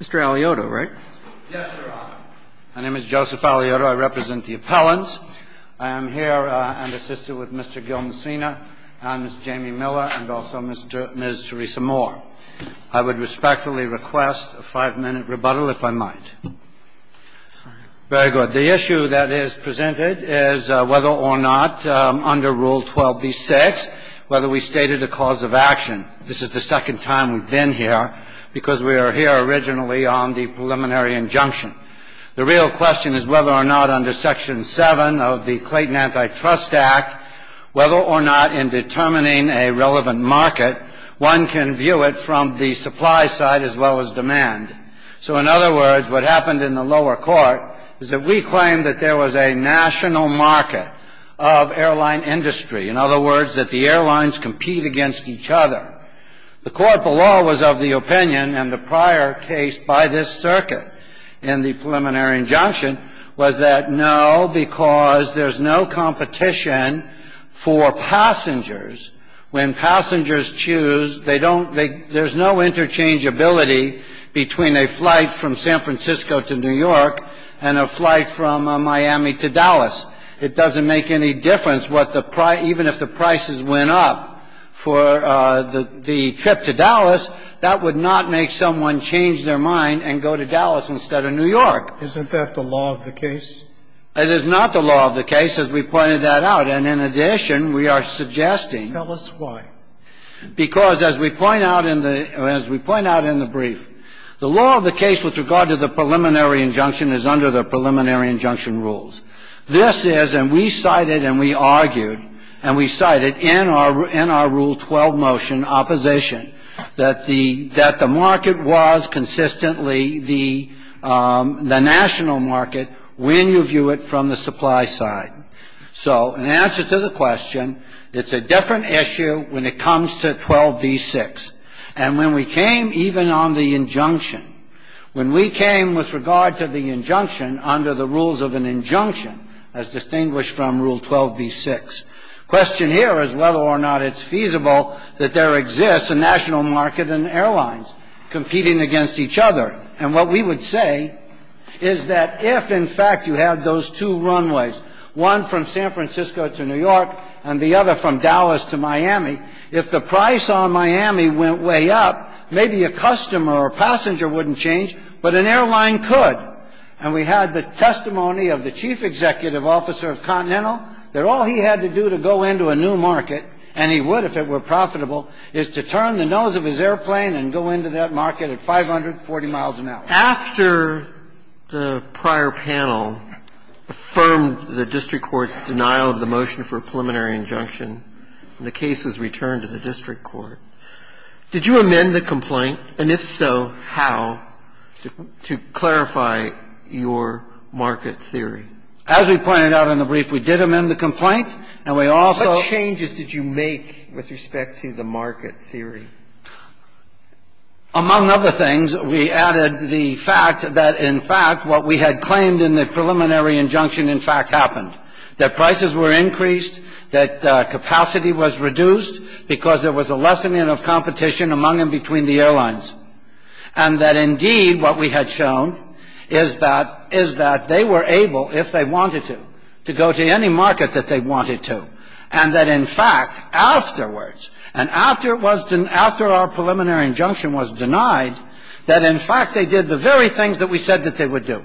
Mr. Alioto, right? Yes, Your Honor. My name is Joseph Alioto. I represent the appellants. I am here and assisted with Mr. Gil Messina and Ms. Jamie Miller and also Ms. Theresa Moore. I would respectfully request a five-minute rebuttal, if I might. That's fine. Very good. The issue that is presented is whether or not under Rule 12b-6, whether we stated a cause of action. This is the second time we've been here because we are here originally on the preliminary injunction. The real question is whether or not under Section 7 of the Clayton Antitrust Act, whether or not in determining a relevant market, one can view it from the supply side as well as demand. So in other words, what happened in the lower court is that we claimed that there was a national market of airline industry. In other words, that the airlines compete against each other. The court below was of the opinion, and the prior case by this circuit in the preliminary injunction was that no, because there's no competition for passengers. When passengers choose, they don't they there's no interchangeability between a flight from San Francisco to New York and a flight from Miami to Dallas. It doesn't make any difference what the price, even if the prices went up for the trip to Dallas, that would not make someone change their mind and go to Dallas instead of New York. Isn't that the law of the case? It is not the law of the case, as we pointed that out. And in addition, we are suggesting. Tell us why. Because as we point out in the brief, the law of the case with regard to the preliminary injunction is under the preliminary injunction rules. This is, and we cited and we argued, and we cited in our rule 12 motion opposition, that the market was consistently the national market when you view it from the supply side. So in answer to the question, it's a different issue when it comes to 12b6. And when we came even on the injunction, when we came with regard to the injunction under the rules of an injunction, as distinguished from rule 12b6, question here is whether or not it's feasible that there exists a national market and airlines competing against each other. And what we would say is that if, in fact, you had those two runways, one from San Francisco to New York and the other from Dallas to Miami, if the price on Miami went way up, maybe a customer or passenger wouldn't change, but an airline could. And we had the testimony of the chief executive officer of Continental that all he had to do to go into a new market, and he would if it were profitable, is to turn the nose of his airplane and go into that market at 540 miles an hour. After the prior panel affirmed the district court's denial of the motion for a preliminary injunction, and the case was returned to the district court, did you amend the complaint, and if so, how, to clarify your market theory? As we pointed out in the brief, we did amend the complaint, and we also ---- What changes did you make with respect to the market theory? Among other things, we added the fact that, in fact, what we had claimed in the preliminary injunction, in fact, happened, that prices were increased, that capacity was reduced because there was a lessening of competition among and between the airlines, and that, indeed, what we had shown is that they were able, if they wanted to, to go to any market that they wanted to, and that, in fact, afterwards, and after it was ---- after our preliminary injunction was denied, that, in fact, they did the very things that we said that they would do,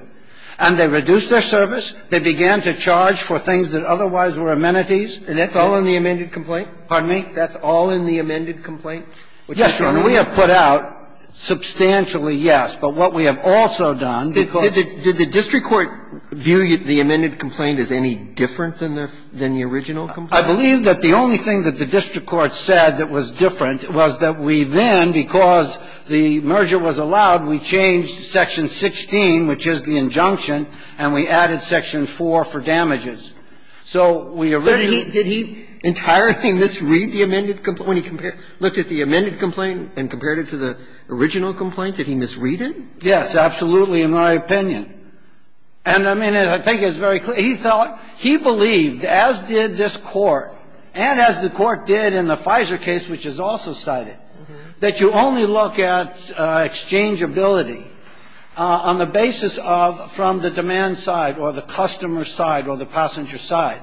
and they reduced their service, they began to charge for things that otherwise were amenities. And that's all in the amended complaint? Pardon me? That's all in the amended complaint? Yes, Your Honor. We have put out substantially, yes, but what we have also done, because ---- Did the district court view the amended complaint as any different than the original complaint? I believe that the only thing that the district court said that was different was that we then, because the merger was allowed, we changed Section 16, which is the injunction, and we added Section 4 for damages. So we originally ---- So did he entirely misread the amended complaint when he compared ---- looked at the amended complaint and compared it to the original complaint, did he misread it? Yes, absolutely, in my opinion. And, I mean, I think it's very clear he thought ---- he believed, as did this Court and as the Court did in the FISA case, which is also cited, that you only look at exchangeability on the basis of from the demand side or the customer side or the passenger side.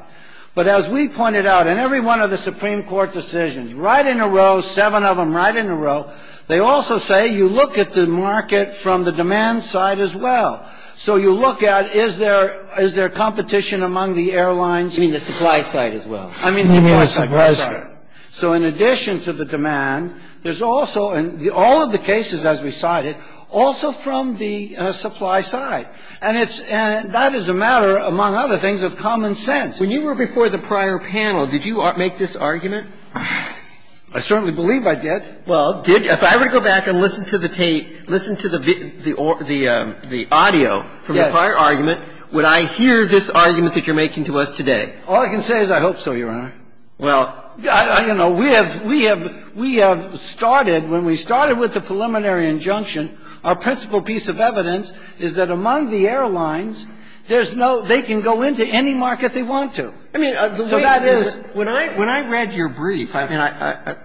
But as we pointed out, in every one of the Supreme Court decisions, right in a row, seven of them right in a row, they also say you look at the market from the demand side as well. So you look at, is there ---- is there competition among the airlines? You mean the supply side as well? I mean the supply side. I'm sorry. So in addition to the demand, there's also ---- all of the cases, as we cited, also from the supply side. And it's ---- and that is a matter, among other things, of common sense. When you were before the prior panel, did you make this argument? I certainly believe I did. Well, did you? If I were to go back and listen to the tape, listen to the audio from the prior argument, would I hear this argument that you're making to us today? All I can say is I hope so, Your Honor. Well, I don't know. We have ---- we have started, when we started with the preliminary injunction, our principal piece of evidence is that among the airlines, there's no ---- they can go into any market they want to. I mean, the way that is ---- When I read your brief, I mean, I ----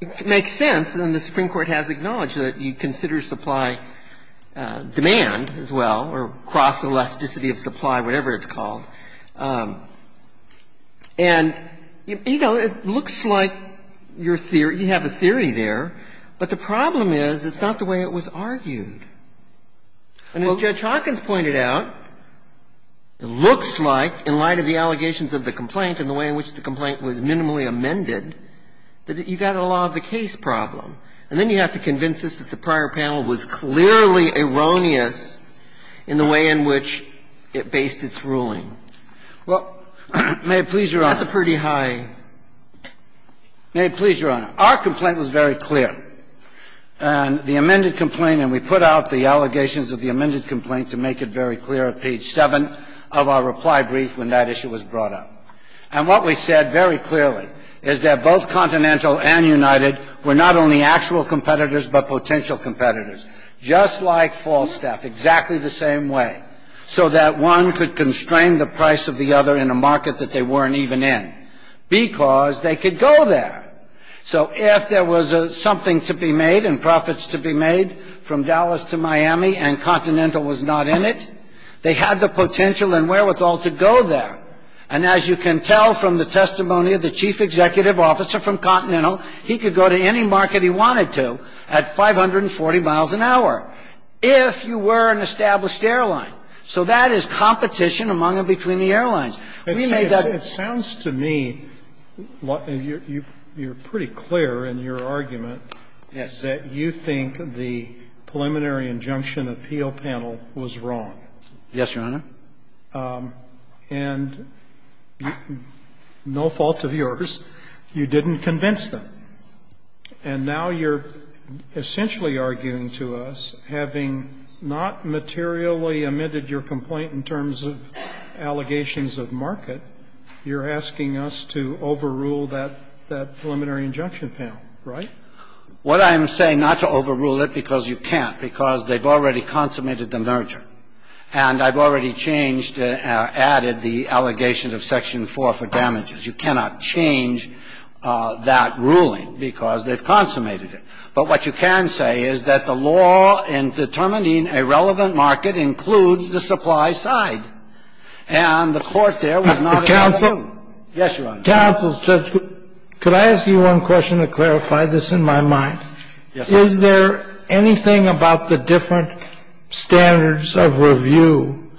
it makes sense, and the Supreme Court has acknowledged that you consider supply demand as well, or cross-elasticity of supply, whatever it's called. And, you know, it looks like your theory ---- you have a theory there, but the problem is it's not the way it was argued. And as Judge Hawkins pointed out, it looks like, in light of the allegations of the complaint and the way in which the complaint was minimally amended, that you got a law of the case problem. And then you have to convince us that the prior panel was clearly erroneous in the way in which it based its ruling. Well, may it please Your Honor ---- That's a pretty high ---- May it please Your Honor, our complaint was very clear. And the amended complaint, and we put out the allegations of the amended complaint to make it very clear at page 7 of our reply brief when that issue was brought up. And what we said very clearly is that both Continental and United were not only actual competitors, but potential competitors, just like Falstaff, exactly the same way, so that one could constrain the price of the other in a market that they weren't even in, because they could go there. So if there was something to be made and profits to be made from Dallas to Miami and Continental was not in it, they had the potential and wherewithal to go there. And as you can tell from the testimony of the chief executive officer from Continental, he could go to any market he wanted to at 540 miles an hour, if you were an established airline. So that is competition among and between the airlines. We made that ---- Sotomayor, it sounds to me you're pretty clear in your argument that you think the preliminary injunction appeal panel was wrong. Yes, Your Honor. And no fault of yours, you didn't convince them. And now you're essentially arguing to us, having not materially amended your complaint in terms of allegations of market, you're asking us to overrule that preliminary injunction panel, right? What I'm saying, not to overrule it, because you can't, because they've already consummated the merger. And I've already changed or added the allegation of section 4 for damages. You cannot change that ruling, because they've consummated it. But what you can say is that the law in determining a relevant market includes the supply side. And the Court there was not able to do that. Counsel? Yes, Your Honor. Counsel, Judge, could I ask you one question to clarify this in my mind? Yes, Your Honor. Is there anything about the different standards of review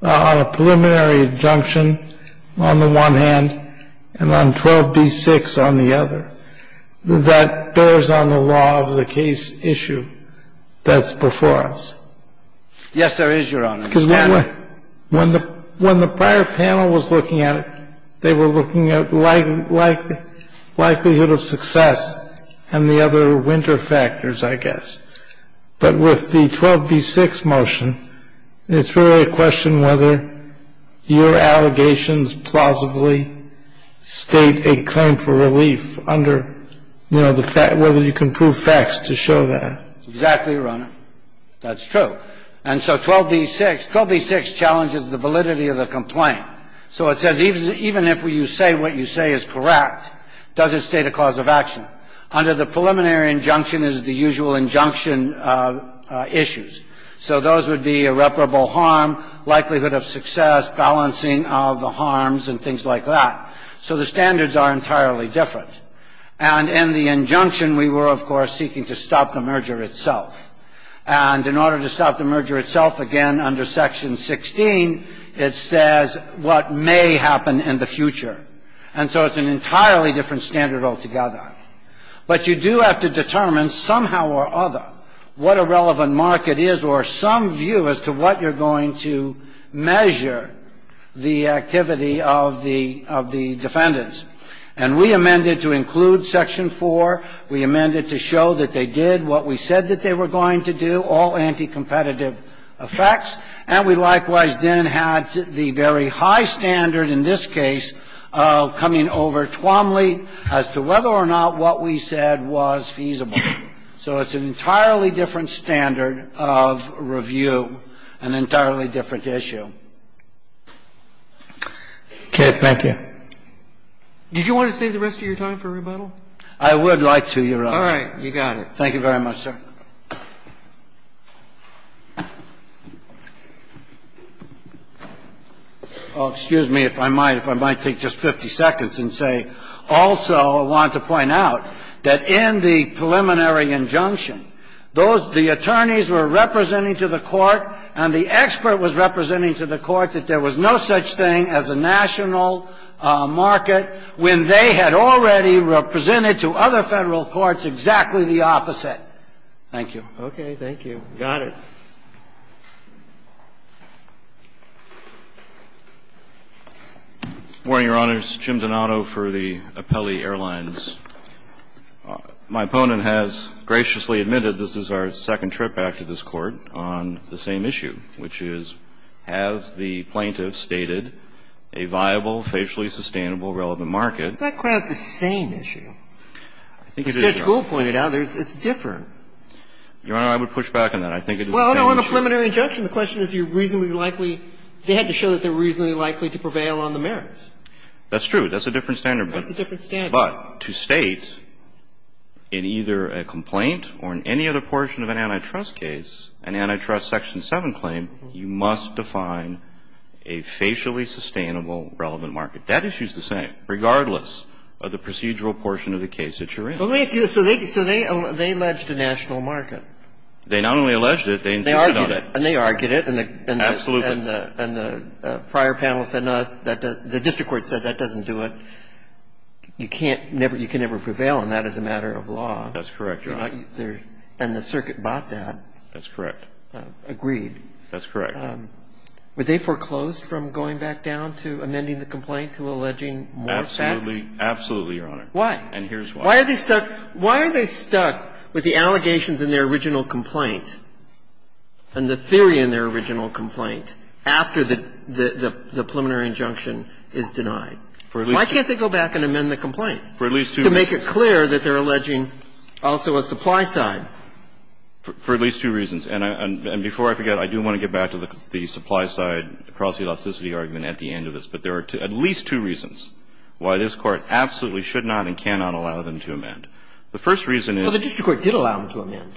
on a preliminary injunction on the one hand and on 12b-6 on the other that bears on the law of the case issue that's before us? Yes, there is, Your Honor. And I think that's a good question, because when the prior panel was looking at it, they were looking at likelihood of success and the other winter factors, I guess. But with the 12b-6 motion, it's really a question whether your allegations plausibly state a claim for relief under, you know, the fact whether you can prove facts to show that. Exactly, Your Honor. That's true. And so 12b-6 challenges the validity of the complaint. So it says even if you say what you say is correct, does it state a cause of action? Under the preliminary injunction is the usual injunction issues. So those would be irreparable harm, likelihood of success, balancing of the harms, and things like that. So the standards are entirely different. And in the injunction, we were, of course, seeking to stop the merger itself. And in order to stop the merger itself, again, under Section 16, it says what may happen in the future. And so it's an entirely different standard altogether. But you do have to determine somehow or other what a relevant market is or some view as to what you're going to measure the activity of the defendants. And we amended to include Section 4. We amended to show that they did what we said that they were going to do, all anti-competitive effects. And we likewise then had the very high standard in this case of coming over Twomley as to whether or not what we said was feasible. So it's an entirely different standard of review, an entirely different issue. Thank you. Did you want to save the rest of your time for rebuttal? I would like to, Your Honor. All right. You got it. Thank you very much, sir. Oh, excuse me, if I might, if I might take just 50 seconds and say, also, I want to point out that in the preliminary injunction, those the attorneys were representing to the court and the expert was representing to the court that there was no such thing as a national market when they had already represented to other Federal courts exactly the opposite. Thank you. Okay. Thank you. Got it. Good morning, Your Honors. Jim Donato for the Appellee Airlines. My opponent has graciously admitted this is our second trip back to this Court on the same issue, which is, has the plaintiff stated a viable, facially sustainable, relevant market? Isn't that quite the same issue? I think it is, Your Honor. As Judge Gould pointed out, it's different. Your Honor, I would push back on that. I think it is the same issue. Well, no, in the preliminary injunction, the question is, you're reasonably likely they had to show that they're reasonably likely to prevail on the merits. That's true. That's a different standard. That's a different standard. But to state in either a complaint or in any other portion of an antitrust case, an antitrust section 7 claim, you must define a facially sustainable, relevant market. That issue is the same, regardless of the procedural portion of the case that you're in. Well, let me ask you this. So they alleged a national market. They not only alleged it, they insisted on it. They argued it. Absolutely. And the prior panel said no, the district court said that doesn't do it. And you can't never – you can never prevail on that as a matter of law. That's correct, Your Honor. And the circuit bought that. That's correct. Agreed. That's correct. Were they foreclosed from going back down to amending the complaint to alleging more facts? Absolutely. Absolutely, Your Honor. Why? And here's why. Why are they stuck – why are they stuck with the allegations in their original complaint and the theory in their original complaint after the preliminary injunction is denied? Why can't they go back and amend the complaint to make it clear that they're alleging also a supply side? For at least two reasons. And before I forget, I do want to get back to the supply side across the elasticity argument at the end of this. But there are at least two reasons why this Court absolutely should not and cannot allow them to amend. The first reason is – Well, the district court did allow them to amend.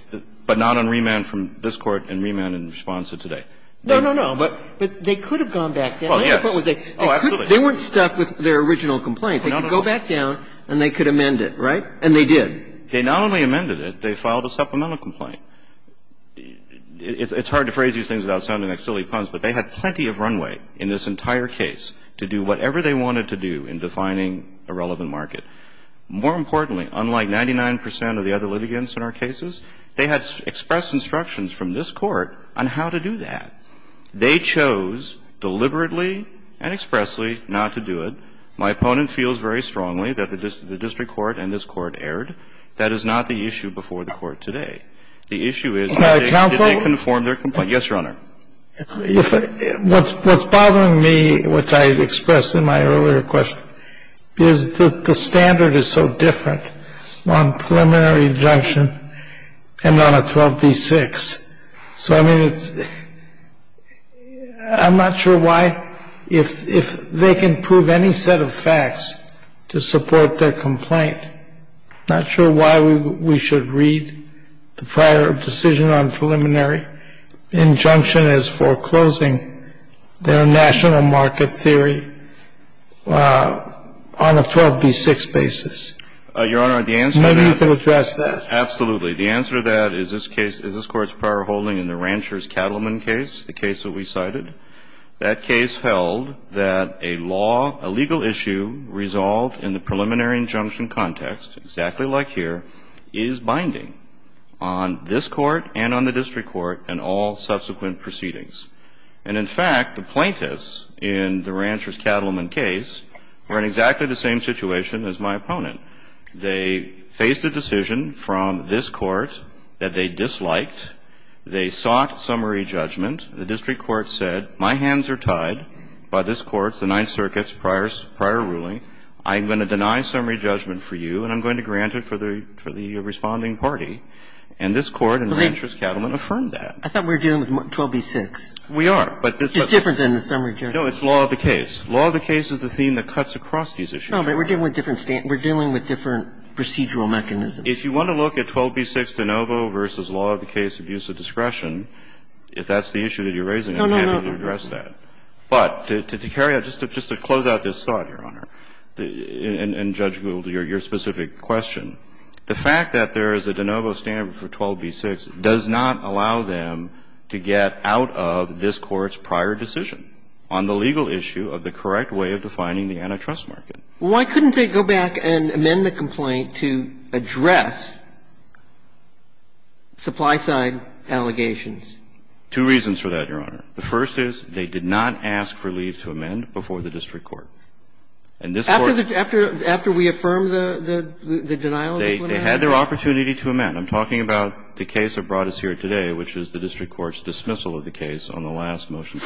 But not on remand from this Court and remand in response to today. No, no, no. But they could have gone back down. Yes. Oh, absolutely. They weren't stuck with their original complaint. They could go back down and they could amend it, right? And they did. They not only amended it, they filed a supplemental complaint. It's hard to phrase these things without sounding like silly puns, but they had plenty of runway in this entire case to do whatever they wanted to do in defining a relevant market. More importantly, unlike 99 percent of the other litigants in our cases, they had expressed instructions from this Court on how to do that. They chose deliberately and expressly not to do it. My opponent feels very strongly that the district court and this Court erred. That is not the issue before the Court today. The issue is did they conform their complaint. Yes, Your Honor. What's bothering me, which I expressed in my earlier question, is that the standard is so different on preliminary injunction and on a 12b-6. So, I mean, it's — I'm not sure why, if they can prove any set of facts to support their complaint, I'm not sure why we should read the prior decision on preliminary injunction as foreclosing their national market theory on a 12b-6 basis. Your Honor, the answer to that — Maybe you could address that. Absolutely. The answer to that is this case — is this Court's prior holding in the Rancher's-Cattleman case, the case that we cited, that case held that a law — a legal issue resolved in the preliminary injunction context, exactly like here, is binding on this Court and on the district court and all subsequent proceedings. And, in fact, the plaintiffs in the Rancher's-Cattleman case were in exactly the same situation as my opponent. They faced a decision from this Court that they disliked. They sought summary judgment. The district court said, my hands are tied by this Court's, the Ninth Circuit's, prior ruling. I'm going to deny summary judgment for you, and I'm going to grant it for the responding party. And this Court in Rancher's-Cattleman affirmed that. I thought we were dealing with 12b-6. We are, but this Court — It's different than the summary judgment. No, it's law of the case. Law of the case is the theme that cuts across these issues. No, but we're dealing with different procedural mechanisms. If you want to look at 12b-6 de novo versus law of the case abuse of discretion, if that's the issue that you're raising, I'm happy to address that. But to carry out — just to close out this thought, Your Honor, and judge your specific question, the fact that there is a de novo standard for 12b-6 does not allow them to get out of this Court's prior decision on the legal issue of the correct way of defining the antitrust market. Why couldn't they go back and amend the complaint to address supply side allegations? Two reasons for that, Your Honor. The first is they did not ask for leave to amend before the district court. And this Court- After the — after we affirmed the denial-of-employment act? They had their opportunity to amend. I'm talking about the case that brought us here today, which is the district court's dismissal of the case on the last motion.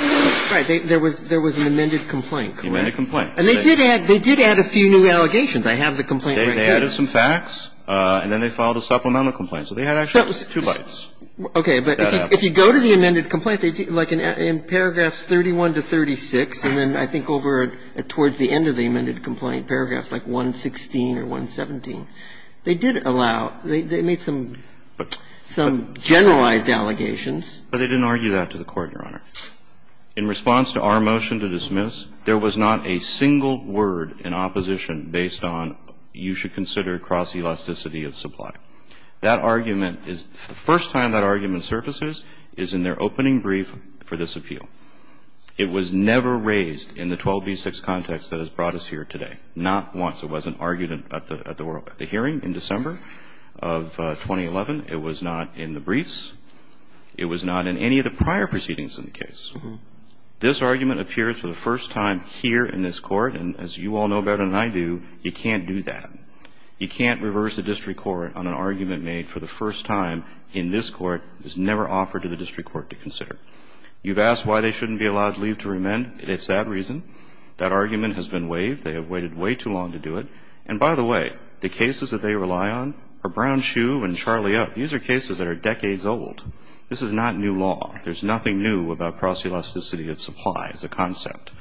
Right. There was an amended complaint, correct? Amended complaint. And they did add — they did add a few new allegations. I have the complaint right here. They added some facts, and then they filed a supplemental complaint. So they had actually two bites. Okay. But if you go to the amended complaint, like in paragraphs 31 to 36, and then I think over towards the end of the amended complaint, paragraphs like 116 or 117, they did allow — they made some — some generalized allegations. But they didn't argue that to the Court, Your Honor. In response to our motion to dismiss, there was not a single word in opposition based on you should consider cross-elasticity of supply. That argument is — the first time that argument surfaces is in their opening brief for this appeal. It was never raised in the 12b-6 context that has brought us here today, not once. It wasn't argued at the hearing in December of 2011. It was not in the briefs. It was not in any of the prior proceedings in the case. This argument appears for the first time here in this Court. And as you all know better than I do, you can't do that. You can't reverse a district court on an argument made for the first time in this court that was never offered to the district court to consider. You've asked why they shouldn't be allowed leave to remand. It's that reason. That argument has been waived. They have waited way too long to do it. And by the way, the cases that they rely on are Brown-Shue and Charlie Up. These are cases that are decades old. This is not new law. There's nothing new about cross-elasticity of supply as a concept.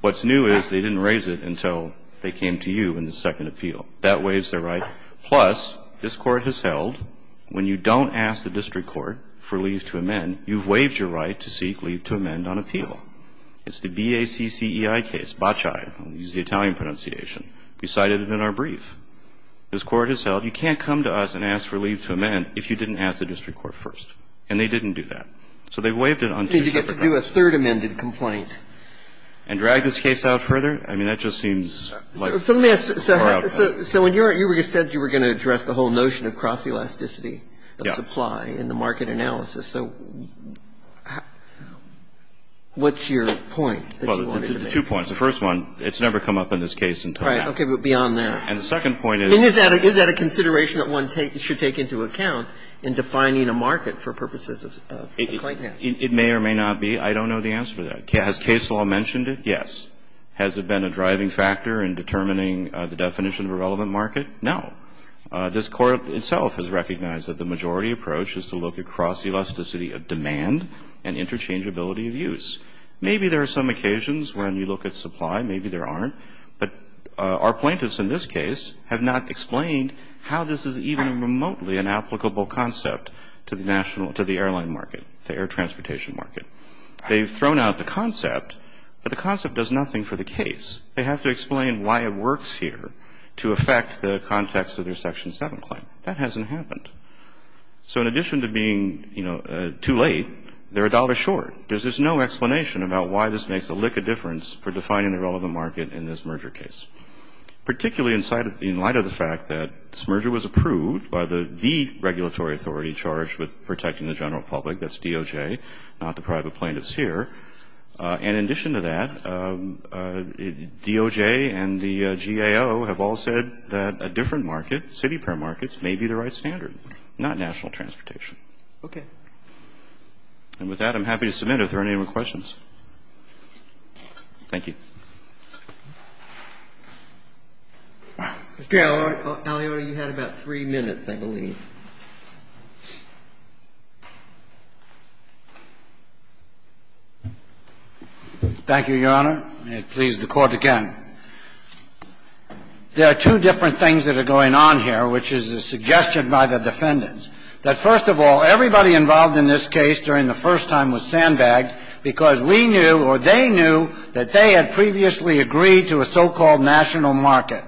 What's new is they didn't raise it until they came to you in the second appeal. That waives their right. Plus, this Court has held, when you don't ask the district court for leave to amend, you've waived your right to seek leave to amend on appeal. It's the BACCEI case, BACCI, I'll use the Italian pronunciation. We cited it in our brief. This Court has held you can't come to us and ask for leave to amend if you didn't ask the district court first. And they didn't do that. So they've waived it on two separate grounds. Did you get to do a third amended complaint? And drag this case out further? I mean, that just seems like a far out time. So when you said you were going to address the whole notion of cross-elasticity of supply in the market analysis, so what's your point that you wanted to make? Well, there's two points. The first one, it's never come up in this case until now. Right, okay, but beyond there. And the second point is- Defining a market for purposes of a claim. It may or may not be. I don't know the answer to that. Has case law mentioned it? Yes. Has it been a driving factor in determining the definition of a relevant market? No. This Court itself has recognized that the majority approach is to look across the elasticity of demand and interchangeability of use. Maybe there are some occasions when you look at supply, maybe there aren't. But our plaintiffs in this case have not explained how this is even remotely an applicable concept to the airline market, the air transportation market. They've thrown out the concept, but the concept does nothing for the case. They have to explain why it works here to affect the context of their Section 7 claim. That hasn't happened. So in addition to being too late, they're a dollar short. There's just no explanation about why this makes a lick of difference for defining the relevant market in this merger case. Particularly in light of the fact that this merger was approved by the regulatory authority charged with protecting the general public, that's DOJ, not the private plaintiffs here. And in addition to that, DOJ and the GAO have all said that a different market, city pair markets, may be the right standard, not national transportation. Okay. And with that, I'm happy to submit if there are any more questions. Thank you. Mr. Alliotta, you had about three minutes, I believe. Thank you, Your Honor. May it please the Court again. There are two different things that are going on here, which is a suggestion by the defendants. That first of all, everybody involved in this case during the first time was sandbagged because we knew, or they knew, that they had previously agreed to a so-called national market.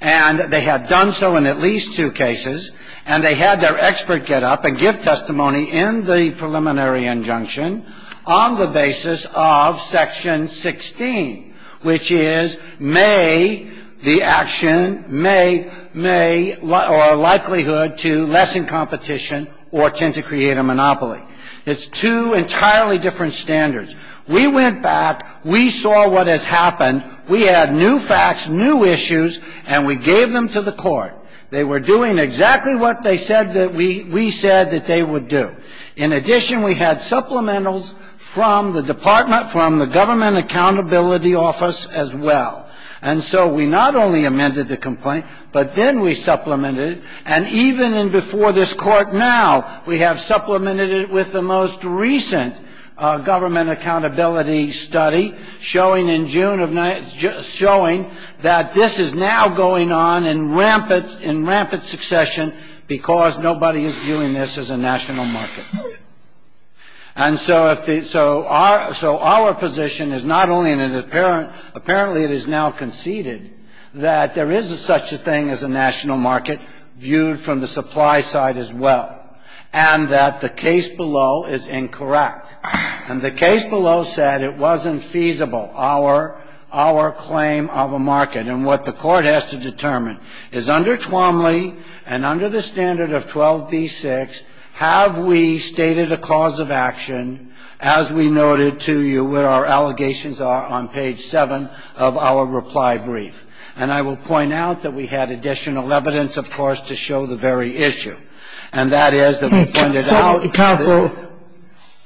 And they had done so in at least two cases. And they had their expert get up and give testimony in the preliminary injunction on the basis of section 16, which is may the action, may, may, or likelihood to lessen competition or tend to create a monopoly. It's two entirely different standards. We went back. We saw what has happened. We had new facts, new issues, and we gave them to the Court. They were doing exactly what they said that we said that they would do. In addition, we had supplementals from the Department, from the Government Accountability Office as well. And so we not only amended the complaint, but then we supplemented it. And even in before this court now, we have supplemented it with the most recent government accountability study showing in June of, showing that this is now going on in rampant succession because nobody is viewing this as a national market. And so our position is not only in an apparent, apparently it is now conceded that there is such a thing as a national market viewed from the supply side as well, and that the case below is incorrect. And the case below said it wasn't feasible, our claim of a market. And what the court has to determine is under Twombly and under the standard of 12B6, have we stated a cause of action as we noted to you where our allegations are on page 7 of our reply brief. And I will point out that we had additional evidence, of course, to show the very issue. And that is that we pointed out- Counsel.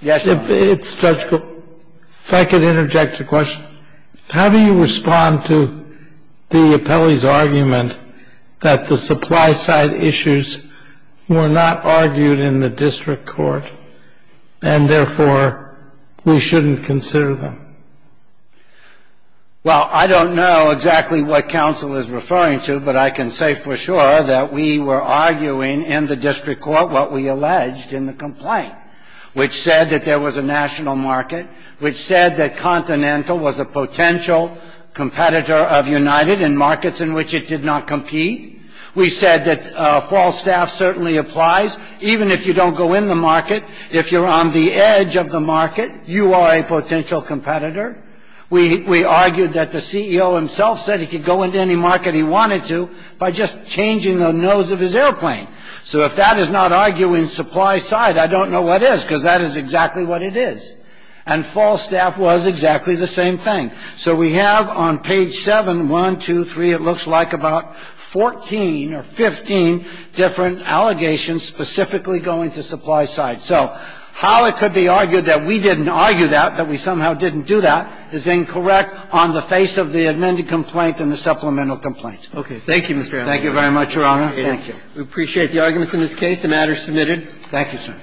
Yes, Your Honor. It's Judge Cook. If I could interject a question. How do you respond to the appellee's argument that the supply side issues were not argued in the district court? And therefore, we shouldn't consider them. Well, I don't know exactly what counsel is referring to, but I can say for sure that we were arguing in the district court what we alleged in the complaint. Which said that there was a national market, which said that Continental was a potential competitor of United in markets in which it did not compete. We said that false staff certainly applies, even if you don't go in the market. If you're on the edge of the market, you are a potential competitor. We argued that the CEO himself said he could go into any market he wanted to by just changing the nose of his airplane. So if that is not arguing supply side, I don't know what is, because that is exactly what it is. And false staff was exactly the same thing. So we have on page 7, 1, 2, 3, it looks like about 14 or 15 different allegations specifically going to supply side. So how it could be argued that we didn't argue that, that we somehow didn't do that, is incorrect on the face of the amended complaint and the supplemental complaint. Okay. Thank you, Mr. Azzar. Thank you very much, Your Honor. Thank you. We appreciate the arguments in this case. The matter is submitted. Thank you, sir.